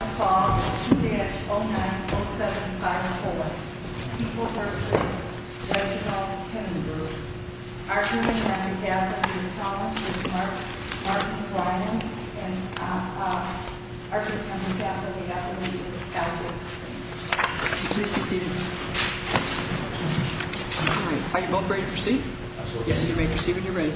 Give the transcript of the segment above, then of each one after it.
I call 2-09-075-4, people v. Reginald Kennebrew, arguing that the death of Peter Thomas is Mark Ryan, and arguing that the death of the athlete is Scott Jacobson. Please be seated. Are you both ready to proceed? Yes, you may proceed when you're ready.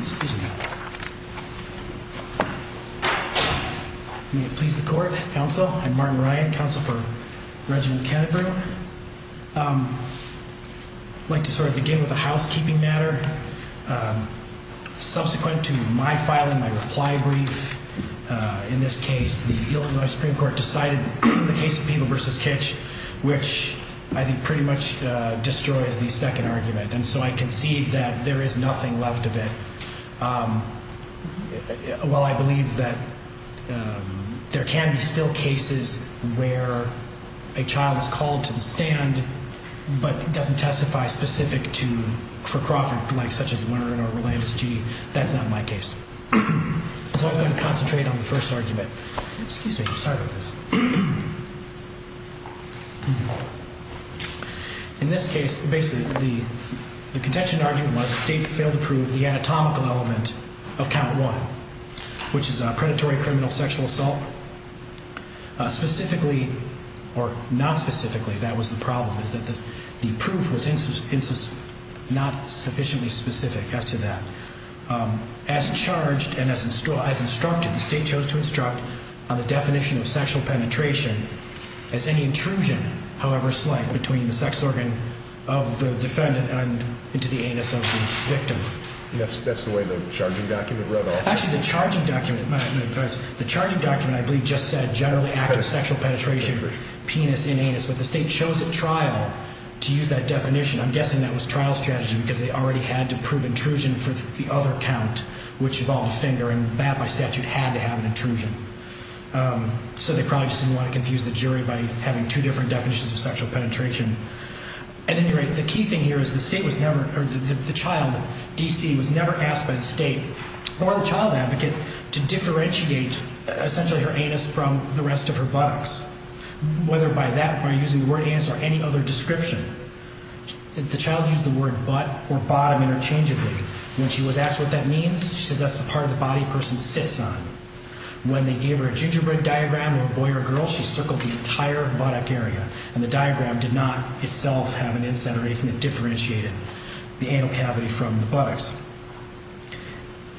Excuse me. May it please the court, counsel, I'm Mark Ryan, counsel for Reginald Kennebrew. I'd like to sort of begin with a housekeeping matter. Subsequent to my filing my reply brief, in this case, the Illinois Supreme Court decided the case of people v. Kitsch, which I think pretty much destroys the second argument. I concede that there is nothing left of it. While I believe that there can be still cases where a child is called to the stand, but doesn't testify specific to Kroffert, such as Werner or Rolandus G., that's not my case. So I'm going to concentrate on the first argument. Excuse me, I'm sorry about this. In this case, basically, the contention argument was the state failed to prove the anatomical element of count one, which is predatory criminal sexual assault. Specifically, or not specifically, that was the problem, is that the proof was not sufficiently specific as to that. As charged and as instructed, the state chose to instruct on the definition of sexual penetration as any intrusion, however slight, between the sex organ of the defendant and into the anus of the victim. That's the way the charging document read also? Actually, the charging document, I believe, just said generally active sexual penetration for penis and anus, but the state chose at trial to use that definition. I'm guessing that was trial strategy because they already had to prove intrusion for the other count, which involved a finger, and that, by statute, had to have an intrusion. So they probably just didn't want to confuse the jury by having two different definitions of sexual penetration. At any rate, the key thing here is the state was never, or the child, D.C., was never asked by the state or the child advocate to differentiate, essentially, her anus from the rest of her buttocks. Whether by that, by using the word anus, or any other description, the child used the word butt or bottom interchangeably. When she was asked what that means, she said that's the part of the body a person sits on. When they gave her a gingerbread diagram of a boy or a girl, she circled the entire buttock area, and the diagram did not itself have an incident or anything that differentiated the anal cavity from the buttocks.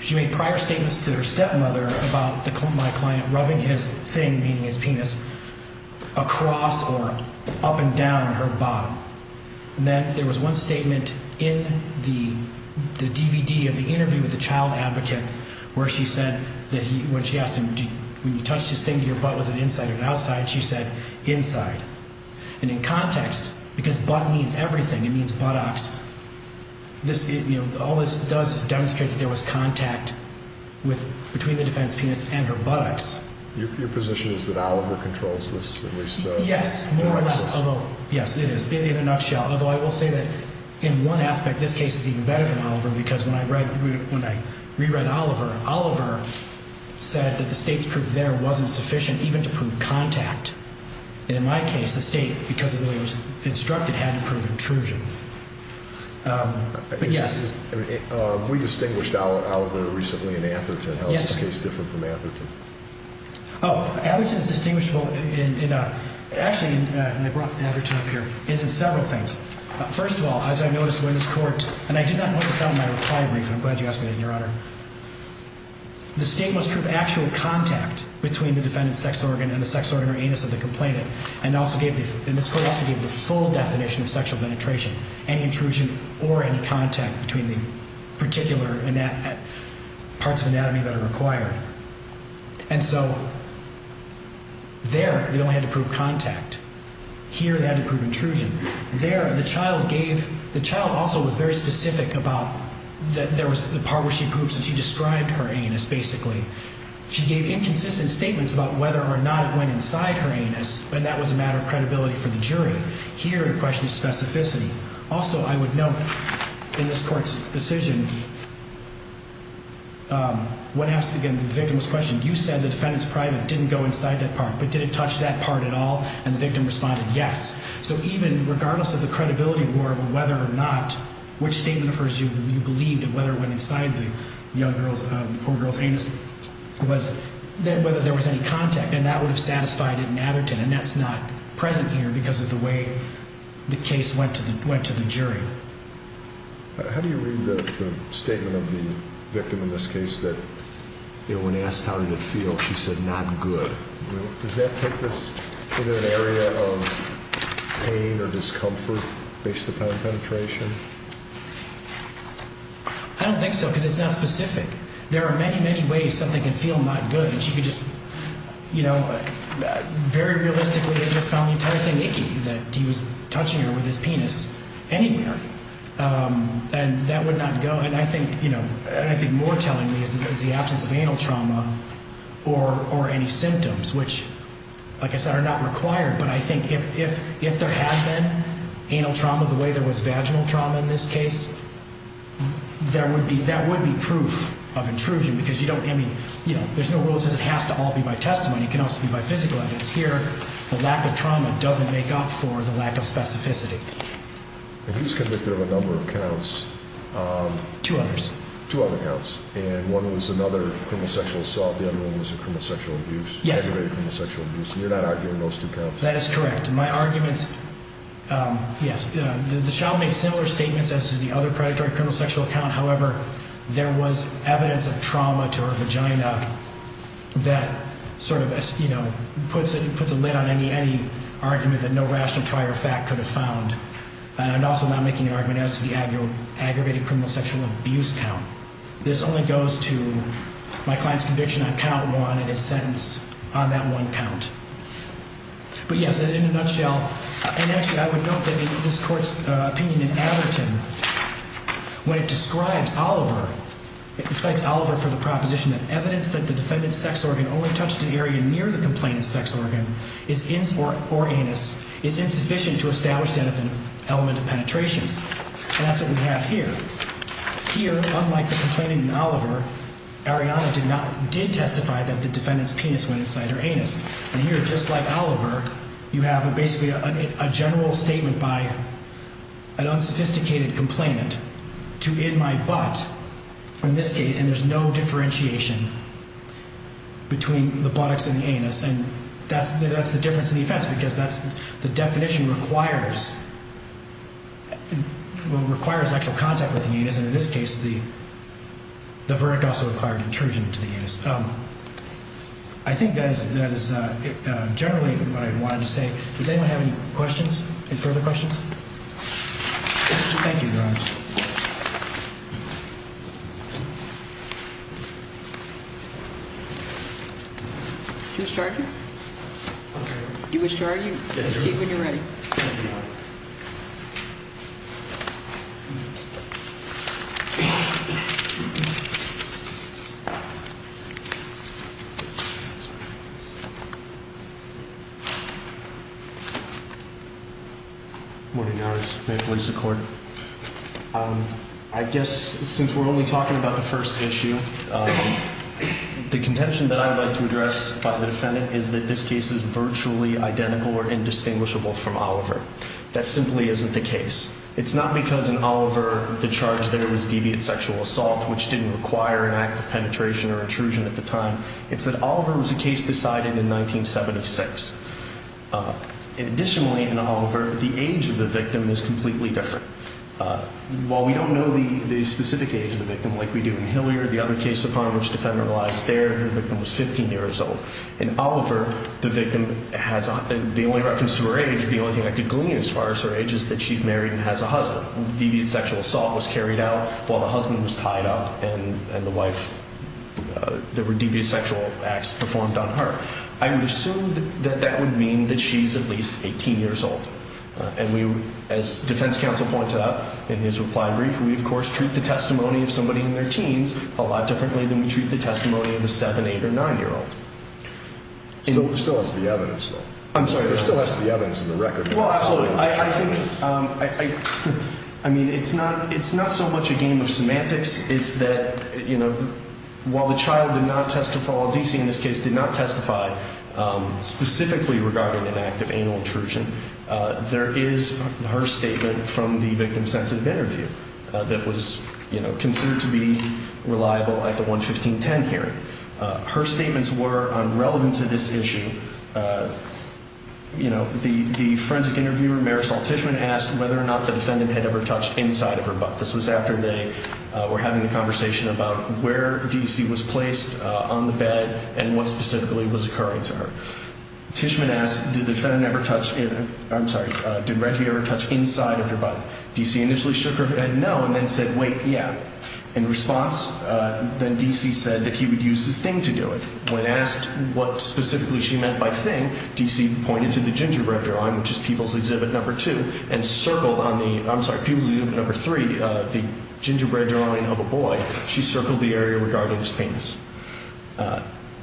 She made prior statements to her stepmother about my client rubbing his thing, meaning his penis, across or up and down her bottom. Then there was one statement in the DVD of the interview with the child advocate where she said, when she asked him, when you touched his thing, did your butt, was it inside or outside, she said, inside. And in context, because butt means everything, it means buttocks, all this does is demonstrate that there was contact between the defense penis and her buttocks. Your position is that Oliver controls this? Yes, more or less, although, yes, it is, in a nutshell. Although I will say that in one aspect this case is even better than Oliver because when I re-read Oliver, Oliver said that the state's proof there wasn't sufficient even to prove contact. And in my case, the state, because it really was instructed, had to prove intrusion. But yes. We distinguished Oliver recently in Atherton. Yes. How is the case different from Atherton? Oh, Atherton is distinguishable in, actually, and I brought Atherton up here, in several things. First of all, as I noticed when this court, and I did not point this out in my reply brief, and I'm glad you asked me that, Your Honor. The state must prove actual contact between the defendant's sex organ and the sex organ or anus of the complainant. And this court also gave the full definition of sexual penetration, any intrusion or any contact between the particular parts of anatomy that are required. And so, there, they only had to prove contact. Here, they had to prove intrusion. There, the child gave, the child also was very specific about, there was the part where she poops and she described her anus, basically. She gave inconsistent statements about whether or not it went inside her anus, and that was a matter of credibility for the jury. Here, the question is specificity. Also, I would note, in this court's decision, when asked again, the victim was questioned, you said the defendant's private didn't go inside that part, but did it touch that part at all? And the victim responded, yes. Regardless of the credibility war, whether or not, which statement of hers you believed, whether it went inside the young girl's, poor girl's anus, was, whether there was any contact. And that would have satisfied it in Atherton, and that's not present here because of the way the case went to the jury. How do you read the statement of the victim in this case that, you know, when asked how did it feel, she said, not good. Does that put this in an area of pain or discomfort based upon penetration? I don't think so, because it's not specific. There are many, many ways something can feel not good, and she could just, you know, very realistically have just found the entire thing icky, that he was touching her with his penis anywhere. And that would not go, and I think, you know, and I think more telling me is the absence of anal trauma or any symptoms, which, like I said, are not required. But I think if there had been anal trauma the way there was vaginal trauma in this case, there would be, that would be proof of intrusion, because you don't, I mean, you know, there's no rule that says it has to all be by testimony. It can also be by physical evidence. Here, the lack of trauma doesn't make up for the lack of specificity. And who's convicted of a number of counts? Two other counts, and one was another criminal sexual assault, the other one was a criminal sexual abuse, aggravated criminal sexual abuse, and you're not arguing those two counts? That is correct. My arguments, yes, the child made similar statements as to the other predatory criminal sexual count, however, there was evidence of trauma to her vagina that sort of, you know, puts a lid on any argument that no rational prior fact could have found. And I'm also not making an argument as to the aggravated criminal sexual abuse count. This only goes to my client's conviction on count one and his sentence on that one count. But yes, in a nutshell, and actually I would note that this court's opinion in Averton, when it describes Oliver, it cites Oliver for the proposition that evidence that the defendant's sex organ only touched an area near the complainant's sex organ is, or anus, is insufficient to establish an element of penetration. And that's what we have here. Here, unlike the complaining in Oliver, Ariana did testify that the defendant's penis went inside her anus. And here, just like Oliver, you have basically a general statement by an unsophisticated complainant to in my butt, in this case, and there's no differentiation between the buttocks and the anus. And that's the difference in the offense, because the definition requires actual contact with the anus, and in this case, the verdict also required intrusion into the anus. I think that is generally what I wanted to say. Does anyone have any questions, any further questions? Do you wish to argue? Do you wish to argue? See you when you're ready. Morning, Your Honors. May it please the Court. I guess, since we're only talking about the first issue, the contention that I would like to address by the defendant is that this case is virtually identical or indistinguishable from Oliver. That simply isn't the case. It's not because in Oliver the charge there was deviant sexual assault, which didn't require an act of penetration or intrusion at the time. It's that Oliver was a case decided in 1976. Additionally, in Oliver, the age of the victim is completely different. While we don't know the specific age of the victim like we do in Hilliard, the other case upon which the defendant relies there, the victim was 15 years old. In Oliver, the victim has, the only reference to her age, the only thing I could glean as far as her age is that she's married and has a husband. Deviant sexual assault was carried out while the husband was tied up and the wife, there were deviant sexual acts performed on her. I would assume that that would mean that she's at least 18 years old. And we, as defense counsel pointed out in his reply brief, we of course treat the testimony of somebody in their teens a lot differently than we treat the testimony of a 7, 8 or 9 year old. There still has to be evidence though. I'm sorry? There still has to be evidence in the record. Well, absolutely. I think, I mean, it's not, it's not so much a game of semantics. It's that, you know, while the child did not testify, DC in this case did not testify specifically regarding an act of animal intrusion. There is her statement from the victim sensitive interview that was, you know, considered to be reliable at the 1-15-10 hearing. Her statements were relevant to this issue. You know, the forensic interviewer, Marisol Tishman, asked whether or not the defendant had ever touched inside of her butt. This was after they were having the conversation about where DC was placed on the bed and what specifically was occurring to her. Tishman asked, did the defendant ever touch, I'm sorry, did Reggie ever touch inside of her butt? DC initially shook her head no and then said, wait, yeah. In response, then DC said that he would use his thing to do it. When asked what specifically she meant by thing, DC pointed to the gingerbread drawing, which is People's Exhibit No. 2, and circled on the, I'm sorry, People's Exhibit No. 3, the gingerbread drawing of a boy. She circled the area regarding his penis.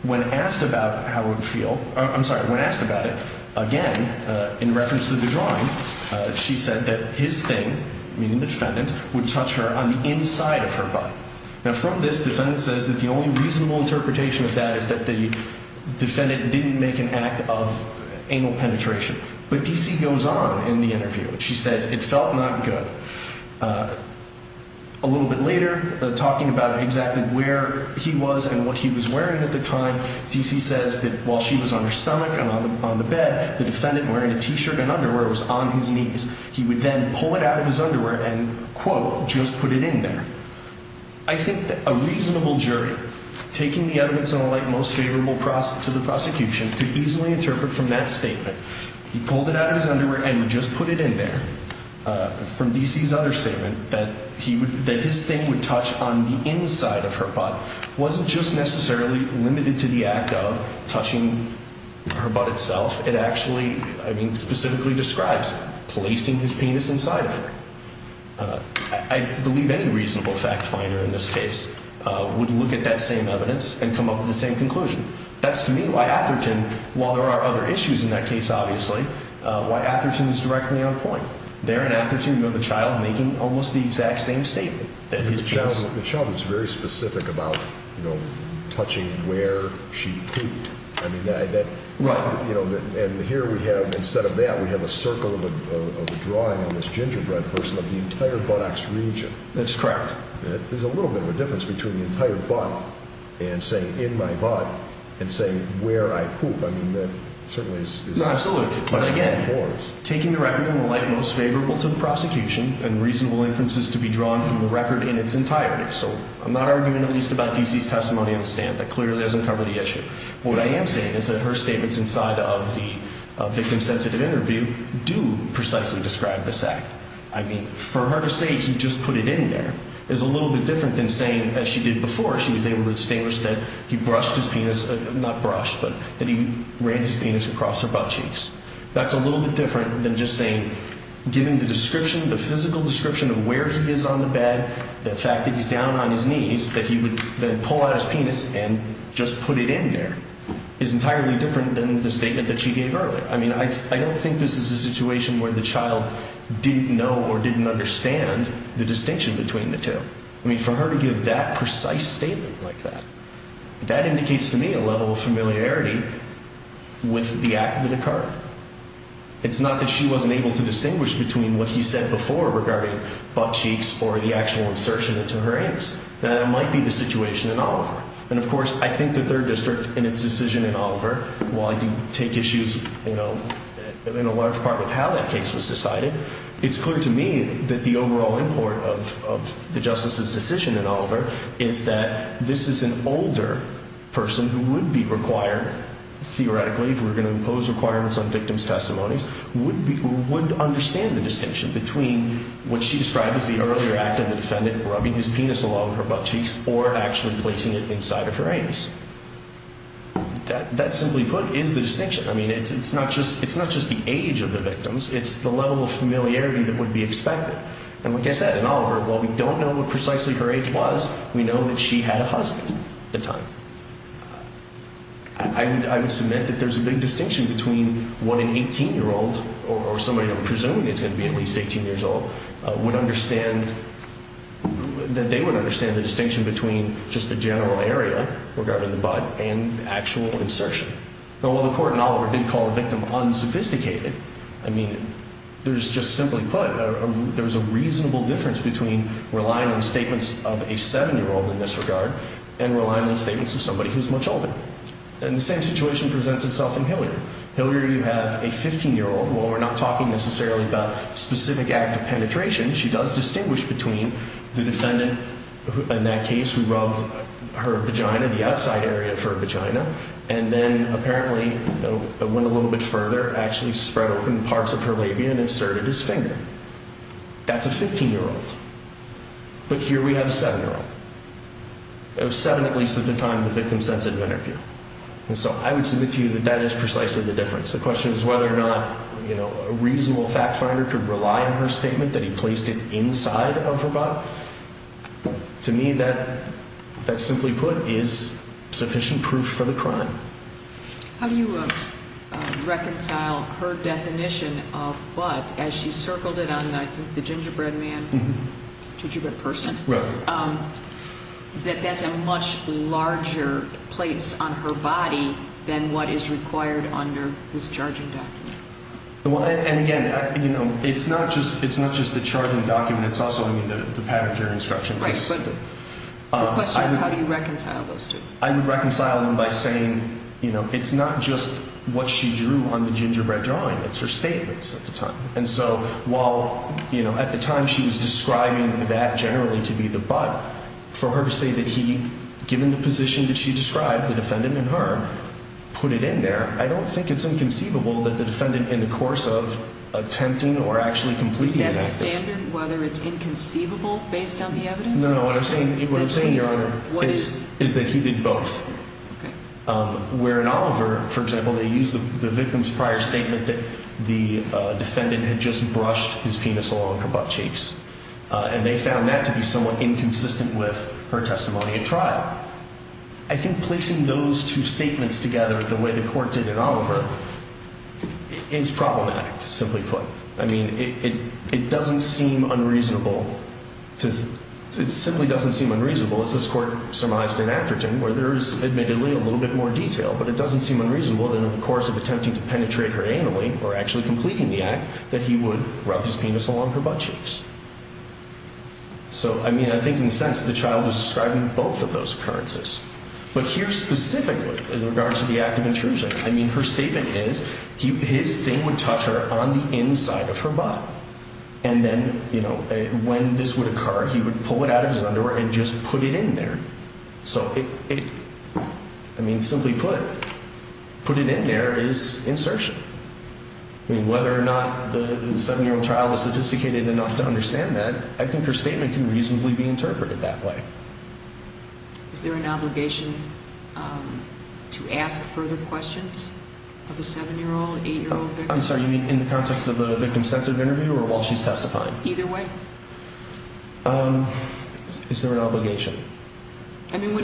When asked about how it would feel, I'm sorry, when asked about it, again, in reference to the drawing, she said that his thing, meaning the defendant, would touch her on the inside of her butt. Now, from this, the defendant says that the only reasonable interpretation of that is that the defendant didn't make an act of anal penetration. But DC goes on in the interview. She says it felt not good. A little bit later, talking about exactly where he was and what he was wearing at the time, DC says that while she was on her stomach and on the bed, the defendant wearing a T-shirt and underwear was on his knees. He would then pull it out of his underwear and, quote, just put it in there. I think that a reasonable jury, taking the evidence in the light most favorable to the prosecution, could easily interpret from that statement. He pulled it out of his underwear and just put it in there. From DC's other statement, that his thing would touch on the inside of her butt wasn't just necessarily limited to the act of touching her butt itself. It actually, I mean, specifically describes placing his penis inside of her. I believe any reasonable fact finder in this case would look at that same evidence and come up with the same conclusion. That's, to me, why Atherton, while there are other issues in that case, obviously, why Atherton is directly on point. There in Atherton, you have the child making almost the exact same statement. The child was very specific about, you know, touching where she pooped. Right. And here we have, instead of that, we have a circle of a drawing on this gingerbread person of the entire buttocks region. That's correct. There's a little bit of a difference between the entire butt and saying, in my butt, and saying, where I poop. I mean, that certainly is... Absolutely. But, again, taking the record in the light most favorable to the prosecution and reasonable inferences to be drawn from the record in its entirety. So, I'm not arguing, at least, about D.C.'s testimony on the stand. That clearly doesn't cover the issue. What I am saying is that her statements inside of the victim-sensitive interview do precisely describe this act. I mean, for her to say he just put it in there is a little bit different than saying, as she did before, she was able to distinguish that he brushed his penis, not brushed, but that he ran his penis across her buttcheeks. That's a little bit different than just saying, given the description, the physical description of where he is on the bed, the fact that he's down on his knees, that he would then pull out his penis and just put it in there, is entirely different than the statement that she gave earlier. I mean, I don't think this is a situation where the child didn't know or didn't understand the distinction between the two. I mean, for her to give that precise statement like that, that indicates to me a level of familiarity with the act that occurred. It's not that she wasn't able to distinguish between what he said before regarding buttcheeks or the actual insertion into her anus. That might be the situation in Oliver. And, of course, I think the Third District in its decision in Oliver, while I do take issues, you know, in a large part with how that case was decided, it's clear to me that the overall import of the Justice's decision in Oliver is that this is an older person who would be required, theoretically, if we're going to impose requirements on victims' testimonies, would understand the distinction between what she described as the earlier act of the defendant rubbing his penis along her buttcheeks or actually placing it inside of her anus. That, simply put, is the distinction. I mean, it's not just the age of the victims, it's the level of familiarity that would be expected. And like I said, in Oliver, while we don't know what precisely her age was, we know that she had a husband at the time. I would submit that there's a big distinction between what an 18-year-old or somebody who I'm presuming is going to be at least 18 years old would understand that they would understand the distinction between just the general area regarding the butt and the actual insertion. Now, while the Court in Oliver did call the victim unsophisticated, I mean, there's just simply put, there's a reasonable difference between relying on statements of a 7-year-old in this regard and relying on statements of somebody who's much older. And the same situation presents itself in Hilliard. Hilliard, you have a 15-year-old. While we're not talking necessarily about specific act of penetration, she does distinguish between the defendant, in that case, who rubbed her vagina, the outside area of her vagina, and then apparently went a little bit further, actually spread open parts of her labia and inserted his finger. That's a 15-year-old. But here we have a 7-year-old. It was 7 at least at the time of the victim-sensitive interview. And so I would submit to you that that is precisely the difference. The question is whether or not, you know, a reasonable fact-finder could rely on her statement that he placed it inside of her butt. To me, that, simply put, is sufficient proof for the crime. How do you reconcile her definition of butt as she circled it on the gingerbread man, gingerbread person? Right. Does she have a much larger place on her body than what is required under this charging document? Well, and again, you know, it's not just the charging document. It's also, I mean, the patent jury instruction. Right, but the question is how do you reconcile those two? I would reconcile them by saying, you know, it's not just what she drew on the gingerbread drawing. It's her statements at the time. And so while, you know, at the time she was describing that generally to be the butt, for her to say that he, given the position that she described, the defendant in her, put it in there, I don't think it's inconceivable that the defendant in the course of attempting or actually completing the active. Is that standard, whether it's inconceivable based on the evidence? No, no, what I'm saying, what I'm saying, Your Honor, is that he did both. Okay. Where in Oliver, for example, they used the victim's prior statement that the defendant had just brushed his penis along her buttcheeks. And they found that to be somewhat inconsistent with her testimony at trial. I think placing those two statements together the way the court did in Oliver is problematic, simply put. I mean, it doesn't seem unreasonable. It simply doesn't seem unreasonable. As this court surmised in Atherton, where there is admittedly a little bit more detail, but it doesn't seem unreasonable in the course of attempting to penetrate her anally or actually completing the act that he would rub his penis along her buttcheeks. So, I mean, I think in a sense, the child is describing both of those occurrences. But here specifically, in regards to the act of intrusion, I mean, her statement is, his thing would touch her on the inside of her butt. And then, you know, when this would occur, he would pull it out of his underwear and just put it in there. So, I mean, simply put, put it in there is insertion. I mean, whether or not the seven-year-old trial is sophisticated enough to understand that, I think her statement can reasonably be interpreted that way. Is there an obligation to ask further questions of a seven-year-old, eight-year-old victim? I'm sorry, you mean in the context of a victim-sensitive interview or while she's testifying? Either way. Is there an obligation? I mean,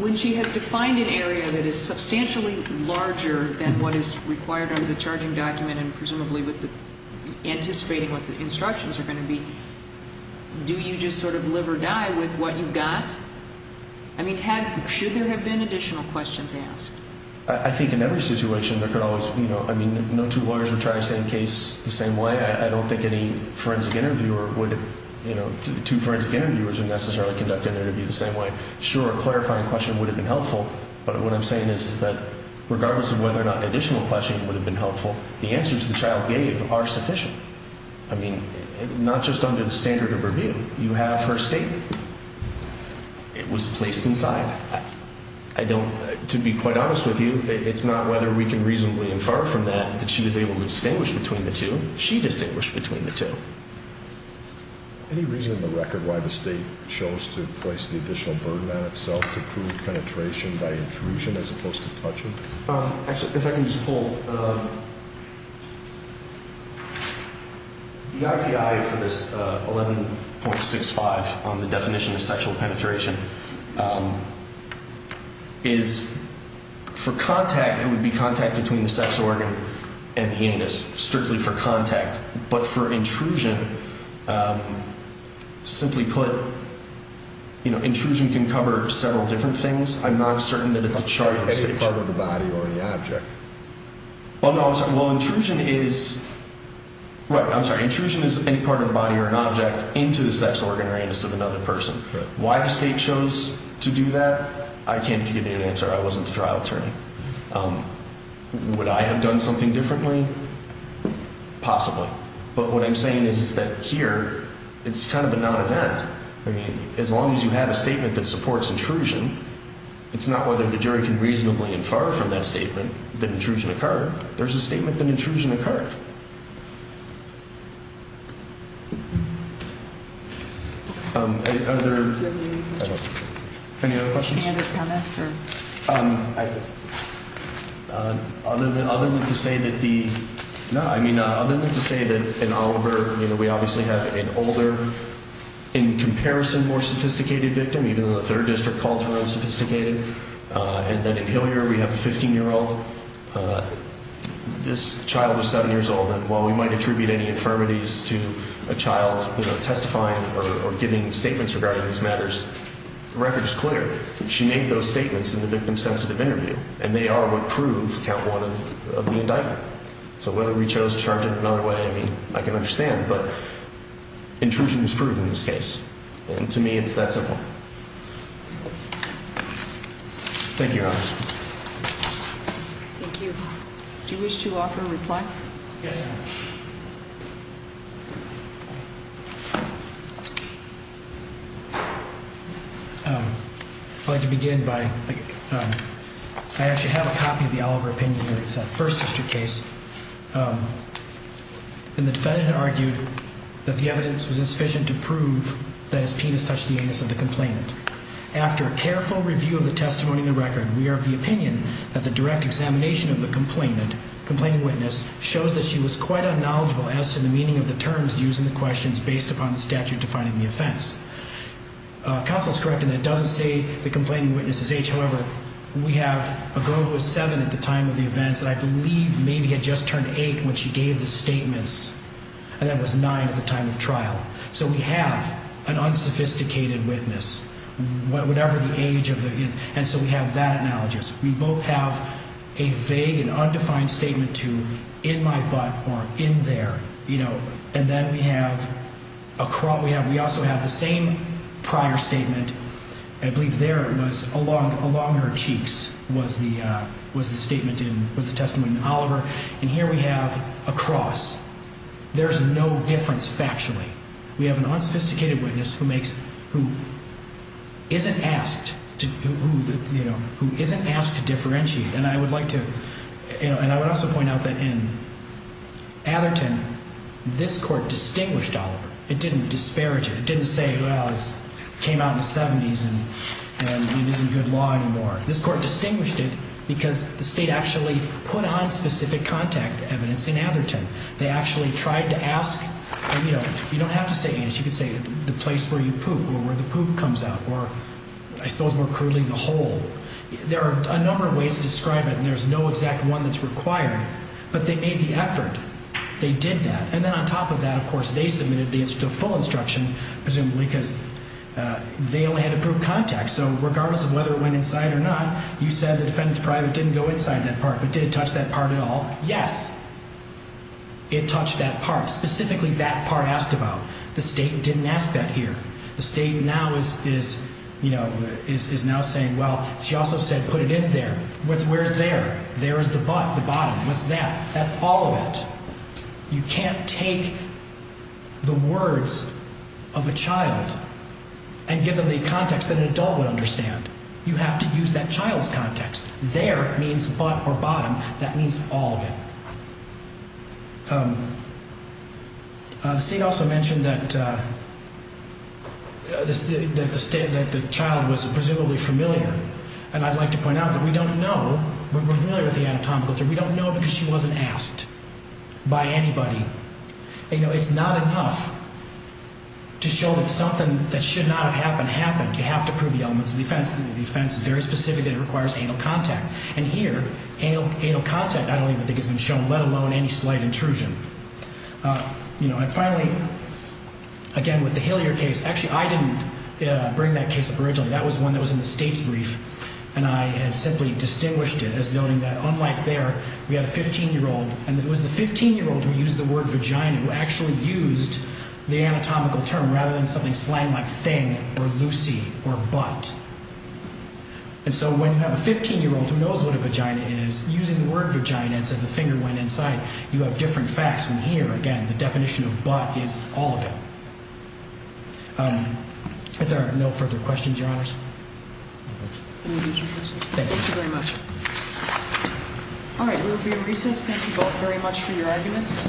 when she has defined an area that is substantially larger than what is required under the charging document and presumably with the, anticipating what the instructions are going to be, do you just sort of live or die with what you've got? I mean, should there have been additional questions asked? I think in every situation there could always, you know, I mean, no two lawyers would try the same case the same way. I don't think any forensic interviewer would, you know, two forensic interviewers would necessarily conduct an interview the same way. Sure, a clarifying question would have been helpful, but what I'm saying is that, regardless of whether or not an additional question would have been helpful, I mean, not just under the standard of review. You have her statement. It was placed inside. I don't, to be quite honest with you, it's not whether we can reasonably infer from that that she was able to distinguish between the two. She distinguished between the two. Any reason in the record why the state chose to place the additional burden on itself to prove penetration by intrusion as opposed to touching? Actually, if I can just pull... The IPI for this 11.65 on the definition of sexual penetration is for contact, it would be contact between the sex organ and the anus, strictly for contact, but for intrusion, simply put, you know, intrusion can cover several different things. I'm not certain that it's a charted stage. Any part of the body or any object? Well, no, I'm sorry. Well, intrusion is... Right, I'm sorry. Intrusion is any part of the body or an object into the sex organ or anus of another person. Why the state chose to do that, I can't give you an answer. I wasn't the trial attorney. Would I have done something differently? Possibly. But what I'm saying is that here it's kind of a non-event. I mean, as long as you have a statement that supports intrusion, it's not whether the jury can reasonably infer that an intrusion occurred. There's a statement that an intrusion occurred. Are there... Any other questions? Any other comments? Other than to say that the... No, I mean, other than to say that in Oliver, you know, we obviously have an older, in comparison, more sophisticated victim, even though the third district calls her unsophisticated, and then in Hilliard we have a 15-year-old and this child is seven years old, and while we might attribute any infirmities to a child, you know, testifying or giving statements regarding these matters, the record is clear. She made those statements in the victim-sensitive interview, and they are what prove count one of the indictment. So whether we chose to charge it another way, I mean, I can understand, and to me it's that simple. Thank you, Your Honor. Thank you. Do you wish to offer a reply? Yes, Your Honor. I'd like to begin by... I actually have a copy of the Oliver opinion here. It's a First District case, and the defendant argued that the evidence was insufficient to prove that his penis touched the anus of the complainant. After a careful review of the testimony in the record, we are of the opinion that the direct examination of the complainant, complaining witness, shows that she was quite unknowledgeable as to the meaning of the terms used in the questions based upon the statute defining the offense. Counsel is correct in that it doesn't say the complaining witness's age. However, we have a girl who was seven at the time of the events and I believe maybe had just turned eight when she gave the statements, and that was nine at the time of trial. So we have an unsophisticated witness, whatever the age of the... And so we have that analogous. We both have a vague and undefined statement to in my butt or in there, you know. And then we have... We also have the same prior statement. I believe there it was along her cheeks was the statement in... was the testimony in Oliver. And here we have across. There's no difference factually. We have an unsophisticated witness who isn't asked to differentiate. And I would like to... And I would also point out that in Atherton, this court distinguished Oliver. It didn't disparage it. It didn't say, well, it came out in the 70s and it isn't good law anymore. This court distinguished it because the state actually put on specific contact evidence in Atherton. They actually tried to ask... You know, you don't have to say anything. You could say the place where you poop or where the poop comes out was more crudely the hole. There are a number of ways to describe it and there's no exact one that's required. But they made the effort. They did that. And then on top of that, of course, they submitted the full instruction presumably because they only had to prove contact. So regardless of whether it went inside or not, you said the defendant's private didn't go inside that part. But did it touch that part at all? Yes, it touched that part. Specifically that part asked about. The state didn't ask that here. The state is now saying, well, she also said put it in there. Where's there? There is the butt, the bottom. What's that? That's all of it. You can't take the words of a child and give them the context that an adult would understand. You have to use that child's context. There means butt or bottom. That means all of it. The state also mentioned that the child was presumably familiar. And I'd like to point out that we don't know. We're familiar with the anatomical thing. We don't know because she wasn't asked by anybody. It's not enough to show that something that should not have happened happened. You have to prove the elements of the offense. And the offense is very specific that it requires anal contact. And here, anal contact I don't even think has been shown, let alone any slight intrusion. And finally, again, the familiar case. Actually, I didn't bring that case up originally. That was one that was in the state's brief. And I had simply distinguished it as noting that unlike there, we had a 15-year-old. And it was the 15-year-old who used the word vagina who actually used the anatomical term rather than something slang like thing or Lucy or butt. And so when you have a 15-year-old who knows what a vagina is, using the word vagina and says the finger went inside, that's not a vagina. If there are no further questions, Your Honors. Thank you. Thank you very much. All right, we'll be in recess. Thank you both very much for your arguments.